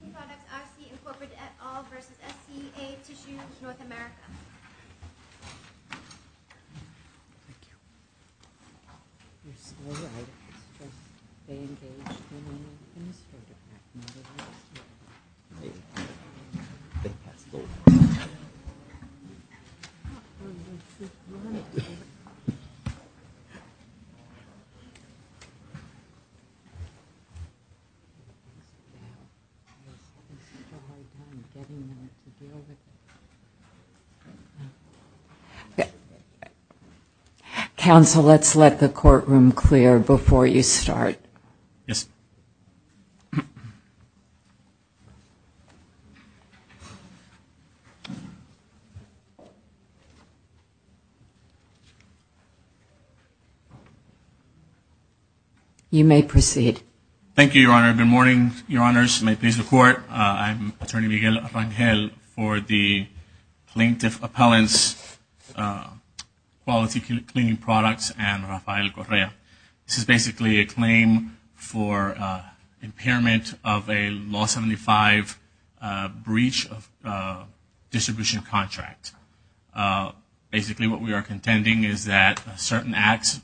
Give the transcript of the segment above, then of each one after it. Cleaning Products IC Incorporated et al. v. SCA Tissue of North America Council, let's let the courtroom clear before you start. You may proceed. Thank you, Your Honor. Good morning, Your Honors. You may please report. I'm Attorney Miguel Arangel for the Plaintiff Appellants Quality Cleaning Products and Rafael Correa. This is basically a claim for impairment of a Law 75 breach of distribution contract. Basically what we are contending is that a certain act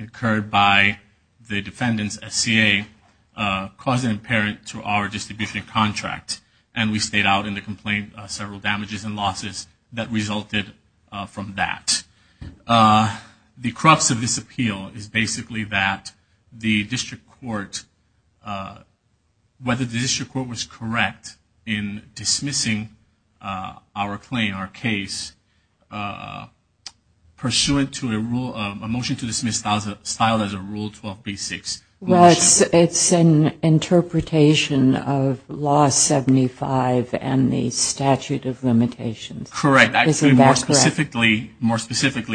incurred by the defendant's SCA caused an impairment to our distribution contract. And we state out in the complaint several damages and losses that resulted from that. The crux of this appeal is basically that the district court, whether the district court was correct in dismissing our claim, our case, pursuant to a rule, a motion to dismiss styled as a Rule 12.36. Well, it's an interpretation of Law 75 and the statute of limitations. Correct. Actually, more specifically,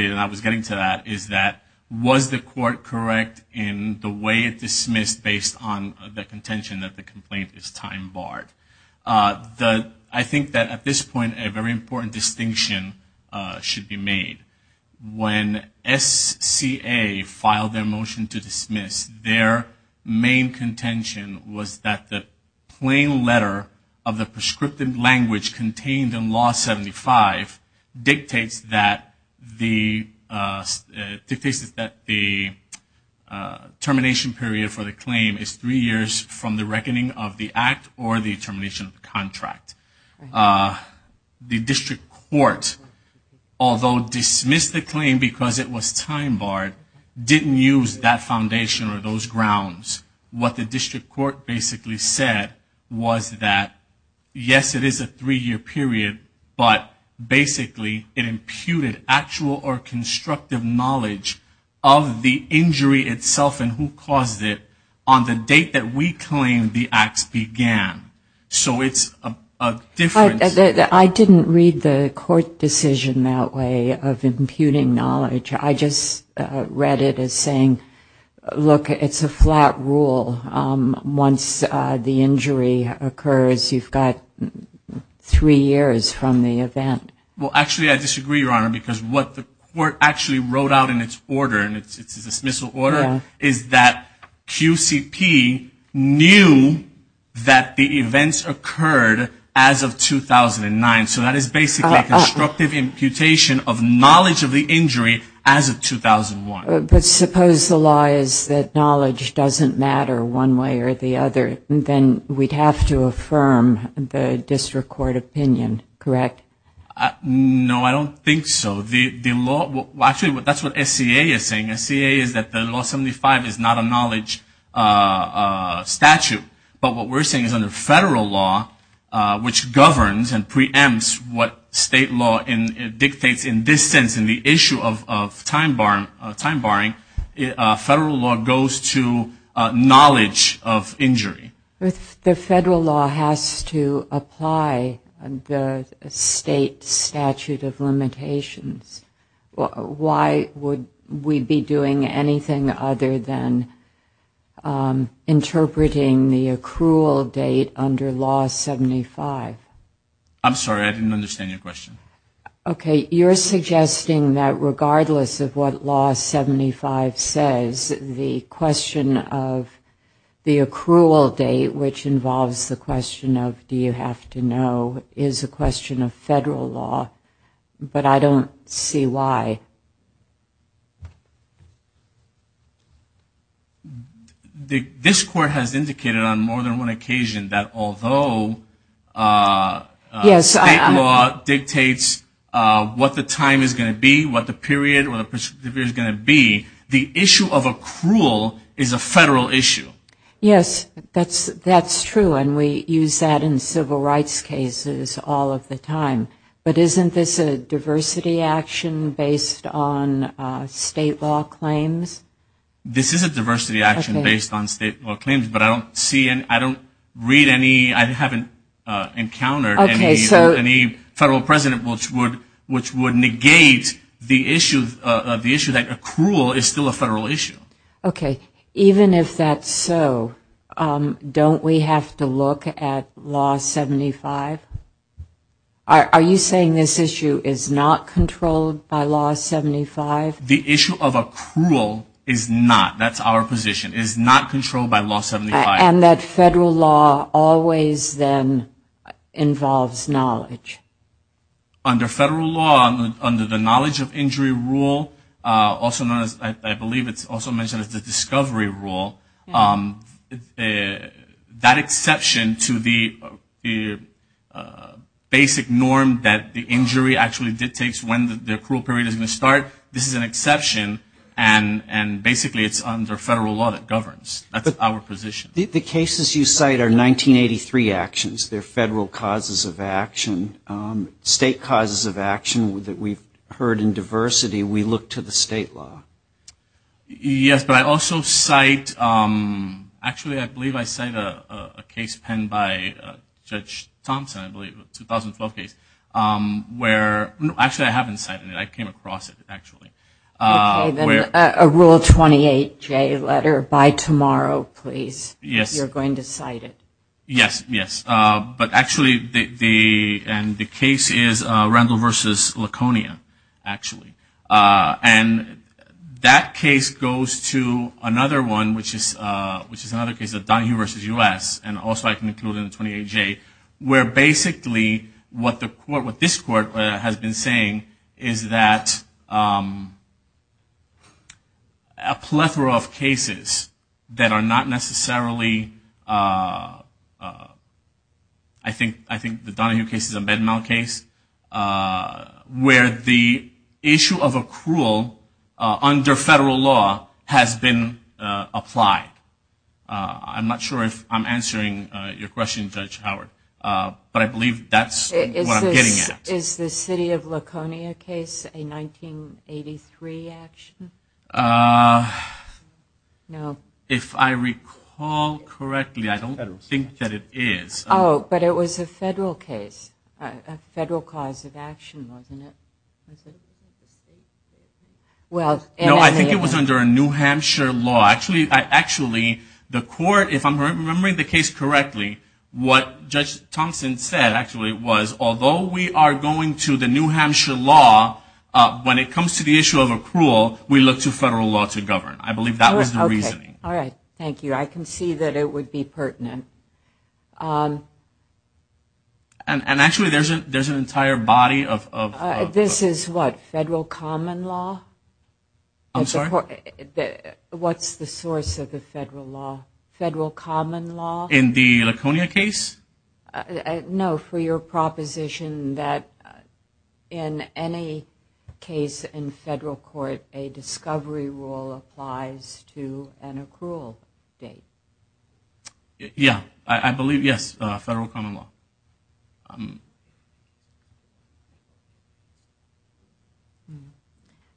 and I was getting to that, is that was the court correct in the way it dismissed based on the contention that the complaint is time barred? I think that at this point a very important distinction should be made. When SCA filed their motion to dismiss, their main contention was that the plain letter of the prescriptive language contained in Law 75 dictates that the termination period for the claim is three years from the reckoning of the act or the termination of the contract. The district court, although dismissed the claim because it was time barred, didn't use that foundation or those grounds. What the district court basically said was that, yes, it is a three-year period, but basically it imputed actual or constructive knowledge of the injury itself and who caused it on the date that we claimed the acts began. I didn't read the court decision that way of imputing knowledge. I just read it as saying, look, it's a flat rule. Once the injury occurs, you've got three years from the event. Well, actually, I disagree, Your Honor, because what the court actually wrote out in its order, and it's a dismissal order, is that QCP knew that the events occurred as of 2009. So that is basically a constructive imputation of knowledge of the injury as of 2001. But suppose the law is that knowledge doesn't matter one way or the other, then we'd have to affirm the district court opinion, correct? No, I don't think so. Well, actually, that's what SCA is saying. SCA is that the Law 75 is not a knowledge statute. But what we're saying is under federal law, which governs and preempts what state law dictates in this sense in the issue of time barring, federal law goes to knowledge of injury. But the federal law has to apply the state statute of limitations. Why would we be doing anything other than interpreting the accrual date under Law 75? I'm sorry, I didn't understand your question. Okay, you're suggesting that regardless of what Law 75 says, the question of the accrual date, which involves the question of do you have to know, is a question of federal law. But I don't see why. This court has indicated on more than one occasion that although state law dictates what the time is going to be, what the period is going to be, the issue of accrual is a federal issue. Yes, that's true. And we use that in civil rights cases all of the time. But isn't this a diversity action based on state law claims? This is a diversity action based on state law claims, but I don't read any, I haven't encountered any federal precedent which would negate the issue that accrual is still a federal issue. Okay, even if that's so, don't we have to look at Law 75? Are you saying this issue is not controlled by Law 75? The issue of accrual is not, that's our position, is not controlled by Law 75. And that federal law always then involves knowledge. Under federal law, under the knowledge of injury rule, also known as, I believe it's also mentioned as the discovery rule, that exception to the basic norm that the injury actually dictates when the accrual period is going to start, this is an exception and basically it's under federal law that governs. The cases you cite are 1983 actions, they're federal causes of action. State causes of action that we've heard in diversity, we look to the state law. Yes, but I also cite, actually I believe I cite a case penned by Judge Thompson, I believe, a 2012 case, where, actually I haven't cited it, I came across it actually. Okay, then a Rule 28J letter by tomorrow, please. You're going to cite it. Yes, yes, but actually the case is Randall v. Laconia, actually. And that case goes to another one, which is another case of Donahue v. U.S., and also I can include in the 28J, where basically what this court has been saying is that, you know, the state has a right to decide. A plethora of cases that are not necessarily, I think the Donahue case is a bed mount case, where the issue of accrual under federal law has been applied. I'm not sure if I'm answering your question, Judge Howard, but I believe that's what I'm getting at. Is the city of Laconia case a 1983 action? If I recall correctly, I don't think that it is. Oh, but it was a federal case, a federal cause of action, wasn't it? No, I think it was under a New Hampshire law. Actually, the court, if I'm remembering the case correctly, what Judge Thompson said actually was, although we are going to the New Hampshire law, when it comes to the issue of accrual, we look to federal law to govern. I believe that was the reasoning. Okay, all right, thank you. I can see that it would be pertinent. And actually there's an entire body of... This is what, federal common law? I'm sorry? What's the source of the federal law? Federal common law? In the Laconia case? No, for your proposition that in any case in federal court, a discovery rule applies to an accrual date. Yeah, I believe, yes, federal common law.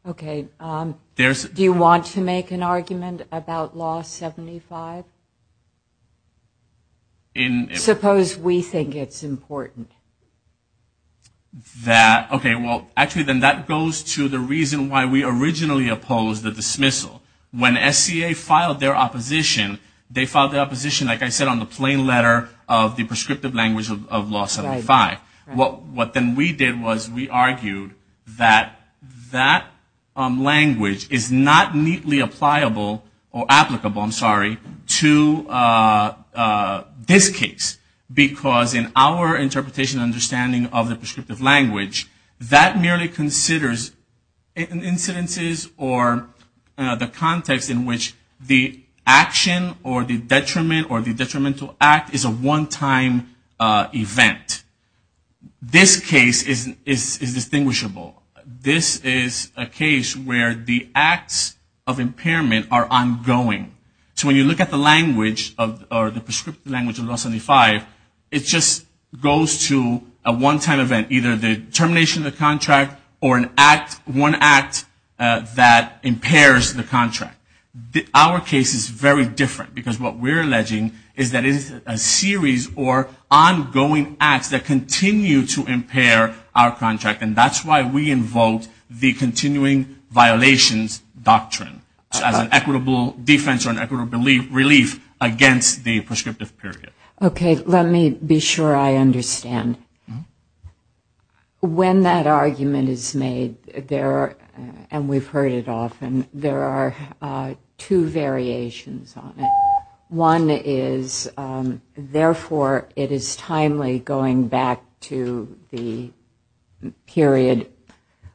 Okay, do you want to make an argument about Law 75? Suppose we think it's important. That, okay, well, actually then that goes to the reason why we originally opposed the dismissal. When SCA filed their opposition, they filed their opposition, like I said, on the plain letter of the prescriptive language of Law 75. What then we did was we argued that that language is not neatly applicable to law 75. To this case, because in our interpretation and understanding of the prescriptive language, that merely considers incidences or the context in which the action or the detriment or the detrimental act is a one-time event. This case is distinguishable. This is a case where the acts of impairment are ongoing. So when you look at the language or the prescriptive language of Law 75, it just goes to a one-time event, either the termination of the contract or one act that impairs the contract. Our case is very different, because what we're alleging is that it is a series or ongoing acts that continue to impair our contract, and that's why we invoke the continuing violations doctrine. As an equitable defense or an equitable relief against the prescriptive period. Okay, let me be sure I understand. When that argument is made, and we've heard it often, there are two variations on it. One is, therefore, it is timely going back to the period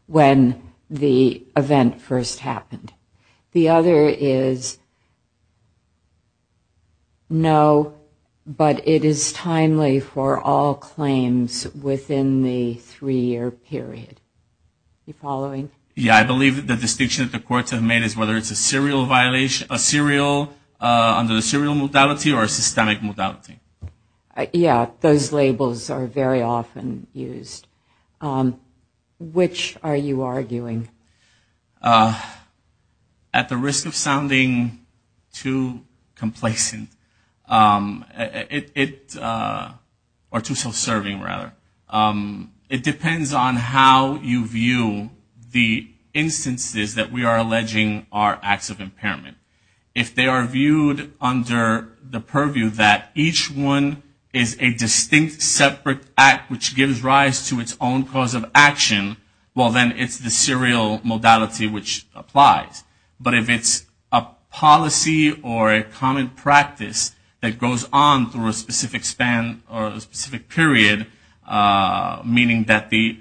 when the event first happened. The other is, no, but it is timely for all claims within the three-year period. Are you following? Yeah, I believe the distinction that the courts have made is whether it's a serial under the serial modality or a systemic modality. Yeah, those labels are very often used. At the risk of sounding too complacent, or too self-serving, rather, it depends on how you view the instances that we are alleging are acts of impairment. If they are viewed under the purview that each one is a distinct separate act which gives rise to its own cause of action, well, then it's the serial modality which applies. But if it's a policy or a common practice that goes on through a specific span or a specific period, meaning that the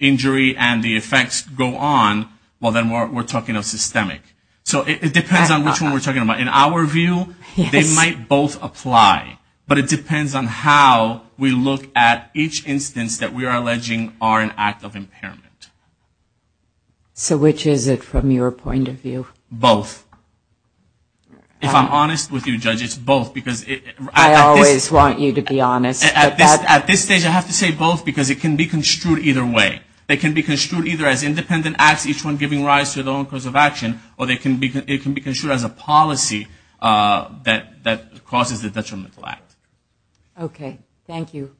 injury and the effects go on, well, then we're talking of systemic. So it depends on which one we're talking about. In our view, they might both apply, but it depends on how we look at each instance that we are alleging are an act of impairment. Which is it from your point of view? Both. If I'm honest with you, Judge, it's both. At this stage, I have to say both because it can be construed either way. They can be construed either as independent acts, each one giving rise to its own cause of action, or they can be construed as a policy that causes a detrimental act. Okay, thank you.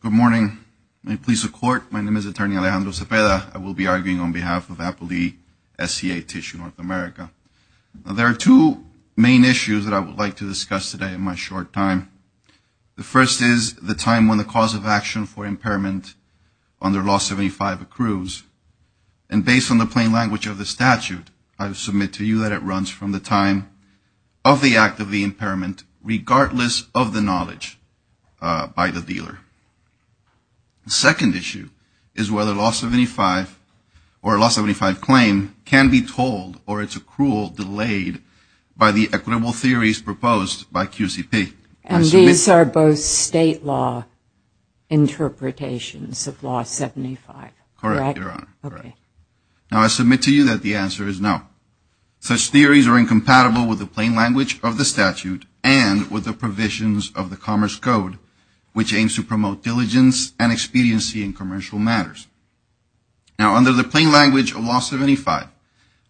Good morning. May it please the Court. My name is Attorney Alejandro Cepeda. I will be arguing on behalf of APLEE SCA Tissue North America. There are two main issues that I would like to discuss today in my short time. The first is the time when the cause of action for impairment under Law 75 accrues. And based on the plain language of the statute, I would submit to you that it runs from the time of the act of the impairment, regardless of the knowledge by the dealer. The second issue is whether Law 75 or a Law 75 claim can be told or its accrual delayed by the equitable theories proposed by QCP. And these are both state law interpretations of Law 75, correct? Okay. Now, I submit to you that the answer is no. Such theories are incompatible with the plain language of the statute and with the provisions of the Commerce Code, which aims to promote diligence and expediency in commercial matters. Now, under the plain language of Law 75,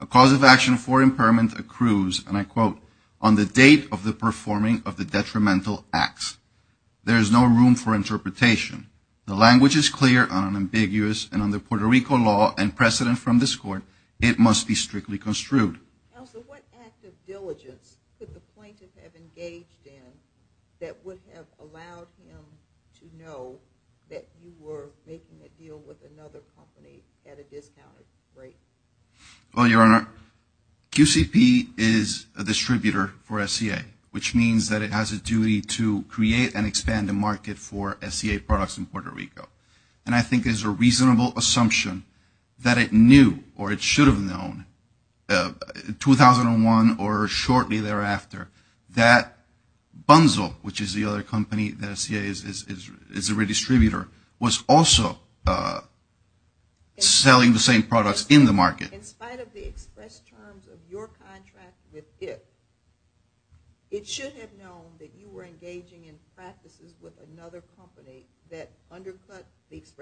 a cause of action for impairment accrues, and I quote, on the date of the performing of the detrimental acts. There is no room for interpretation. The language is clear, unambiguous, and under Puerto Rico law and precedent from this Court, it must be strictly construed. Now, so what act of diligence could the plaintiff have engaged in that would have allowed him to know that you were making a deal with another company at a discounted rate? Well, Your Honor, QCP is a distributor for SCA, which means that it has a duty to create and expand the market for SCA products and services. And I think there's a reasonable assumption that it knew or it should have known 2001 or shortly thereafter that Bunzel, which is the other company that SCA is a redistributor, was also selling the same products in the market. In spite of the express terms of your contract with it, it should have known that you were engaging in practices with another company that was selling the same products.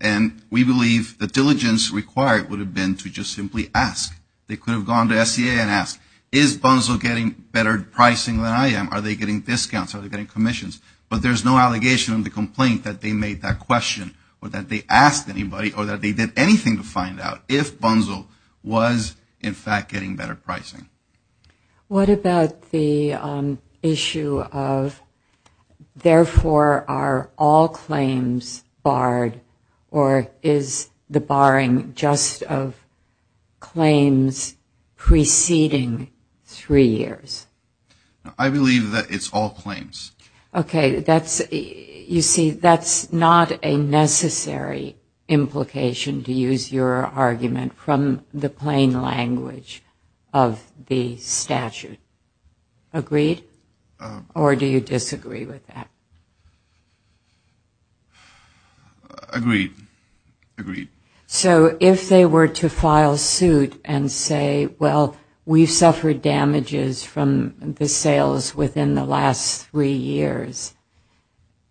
And we believe the diligence required would have been to just simply ask. They could have gone to SCA and asked, is Bunzel getting better pricing than I am, are they getting discounts, are they getting commissions? But there's no allegation in the complaint that they made that question or that they asked anybody or that they did anything to find out if Bunzel was, in fact, getting better pricing. What about the issue of, therefore, are all claims barred or is the barring just of claims preceding three years? I believe that it's all claims. Okay, you see, that's not a necessary implication, to use your argument, from the plain language of this case. It's a matter of the statute, agreed? Or do you disagree with that? Agreed. So if they were to file suit and say, well, we've suffered damages from the sales within the last three years,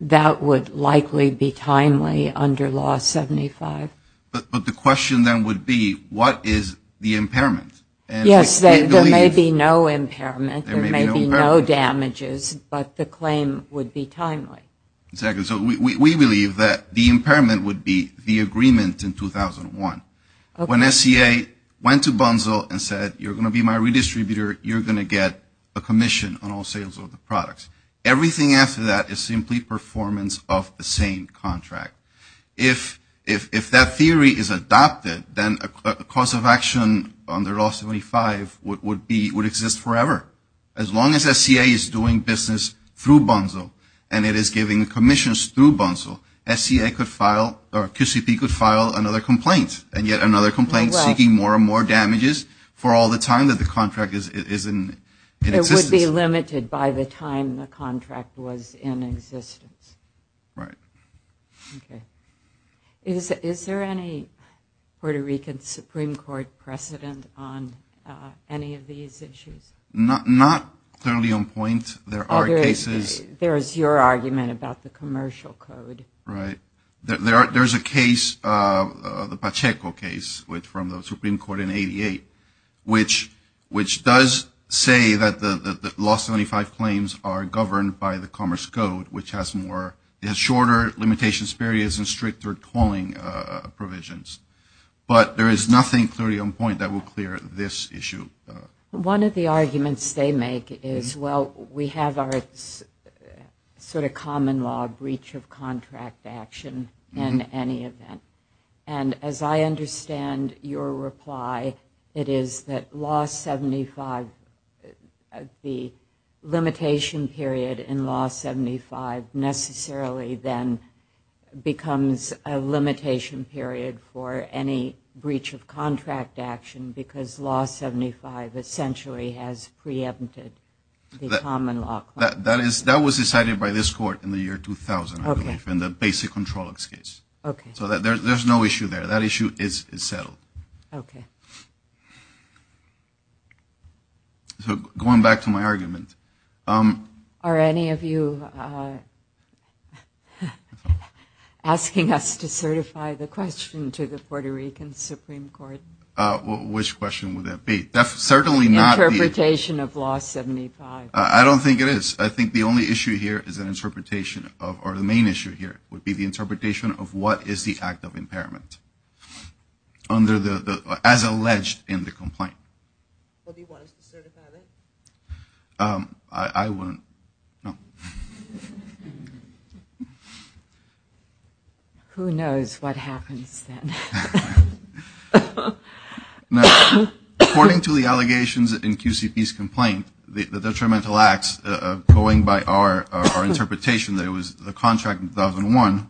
that would likely be timely under Law 75? But the question then would be, what is the impairment? Yes, there may be no impairment, there may be no damages, but the claim would be timely. Exactly, so we believe that the impairment would be the agreement in 2001. When SCA went to Bunzel and said, you're going to be my redistributor, you're going to get a commission on all sales of the products. Everything after that is simply performance of the same contract. If that theory is adopted, then a cause of action under Law 75 would exist forever. As long as SCA is doing business through Bunzel and it is giving commissions through Bunzel, SCA could file, or QCP could file another complaint. And yet another complaint seeking more and more damages for all the time that the contract is in existence. It would be limited by the time the contract was in existence. Right. Is there any Puerto Rican Supreme Court precedent on any of these issues? Not clearly on point. There is your argument about the commercial code. Right. There's a case, the Pacheco case, from the Supreme Court in 88, which does say that the Law 75 claims are governed by the Commerce Code, which has shorter limitations, barriers, and stricter tolling provisions. But there is nothing clearly on point that will clear this issue. One of the arguments they make is, well, we have our sort of common law breach of contract action in any event. And as I understand your reply, it is that Law 75, the limitation period in Law 75, is that there is no breach of contract. And Law 75 necessarily then becomes a limitation period for any breach of contract action, because Law 75 essentially has preempted the common law. That was decided by this Court in the year 2000, I believe, in the basic control case. Okay. So there's no issue there. That issue is settled. Okay. So going back to my argument. Are any of you asking us to certify the question to the Puerto Rican Supreme Court? Which question would that be? Interpretation of Law 75. I don't think it is. I think the only issue here is an interpretation of, or the main issue here would be the interpretation of what is the act of impairment. And that is clearly alleged in the complaint. What do you want us to certify then? I wouldn't. Who knows what happens then. According to the allegations in QCP's complaint, the detrimental acts going by our interpretation that it was the contract in 2001,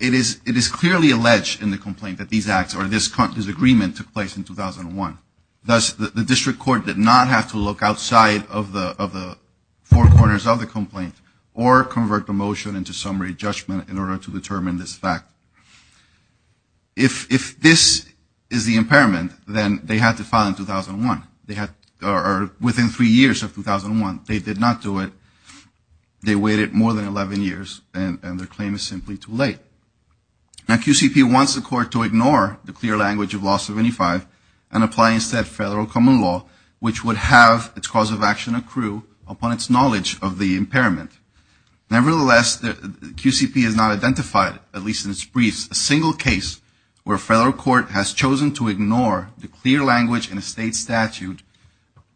it is clearly alleged in the complaint that these acts, or this contract is clearly alleged in the complaint. This agreement took place in 2001. Thus, the district court did not have to look outside of the four corners of the complaint or convert the motion into summary judgment in order to determine this fact. If this is the impairment, then they had to file in 2001. Or within three years of 2001. They did not do it. They waited more than 11 years, and their claim is simply too late. Now QCP wants the court to ignore the clear language of Law 75 and apply instead federal common law, which would have its cause of action accrue upon its knowledge of the impairment. Nevertheless, QCP has not identified, at least in its briefs, a single case where a federal court has chosen to ignore the clear language in a state statute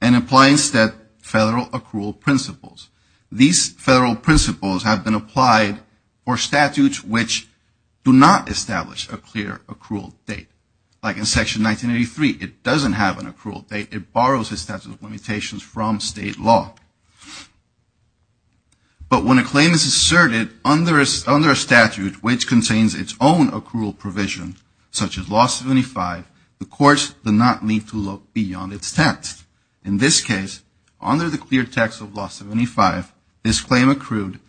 and apply instead federal accrual principles. These federal principles have been applied for statutes which do not establish a clear accrual date. Like in Section 1983, it doesn't have an accrual date. It borrows its statute of limitations from state law. But when a claim is asserted under a statute which contains its own accrual provision, such as Law 75, the courts do not need to look beyond its text. In this case, under the clear text of Law 75, this claim accrued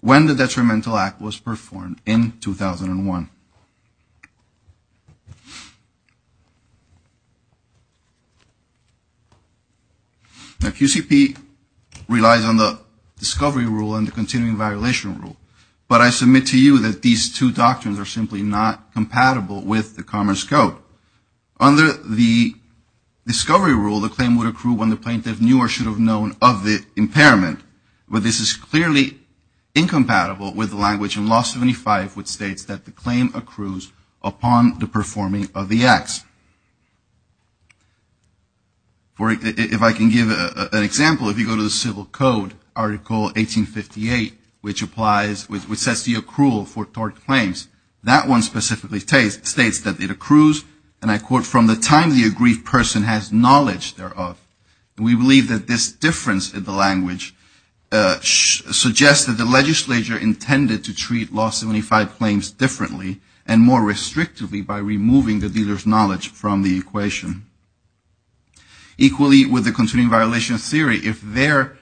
when the detrimental act was performed in 2001. Now QCP relies on the discovery rule and the continuing violation rule. But I submit to you that these two doctrines are simply not compatible with the Commerce Code. Under the discovery rule, the claim would accrue when the plaintiff knew or should have known of the impairment. But this is clearly incompatible with the language in Law 75, which states that the claim accrues upon the performing of the acts. If I can give an example, if you go to the Civil Code, Article 1858, which sets the accrual for tort claims, that one specifically states that it accrues upon the performing of the acts. And I quote, from the time the aggrieved person has knowledge thereof. We believe that this difference in the language suggests that the legislature intended to treat Law 75 claims differently and more restrictively by removing the dealer's knowledge from the equation. Equally, with the continuing violation theory, if their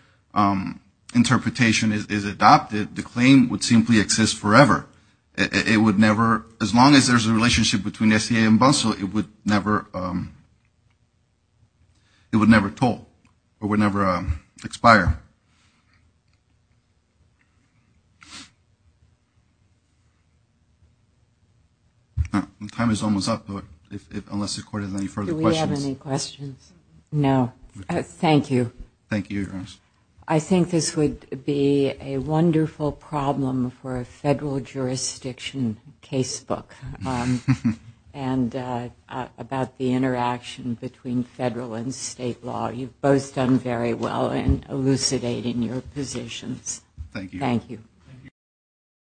interpretation is adopted, the claim would simply exist forever. It would never, as long as there's a relationship between the SCA and Bunsell, it would never toll or would never expire. Time is almost up, unless the Court has any further questions. Do we have any questions? No. Thank you. I think this would be a wonderful problem for a federal jurisdiction casebook. And about the interaction between federal and state law. You've both done very well in elucidating your positions. Thank you.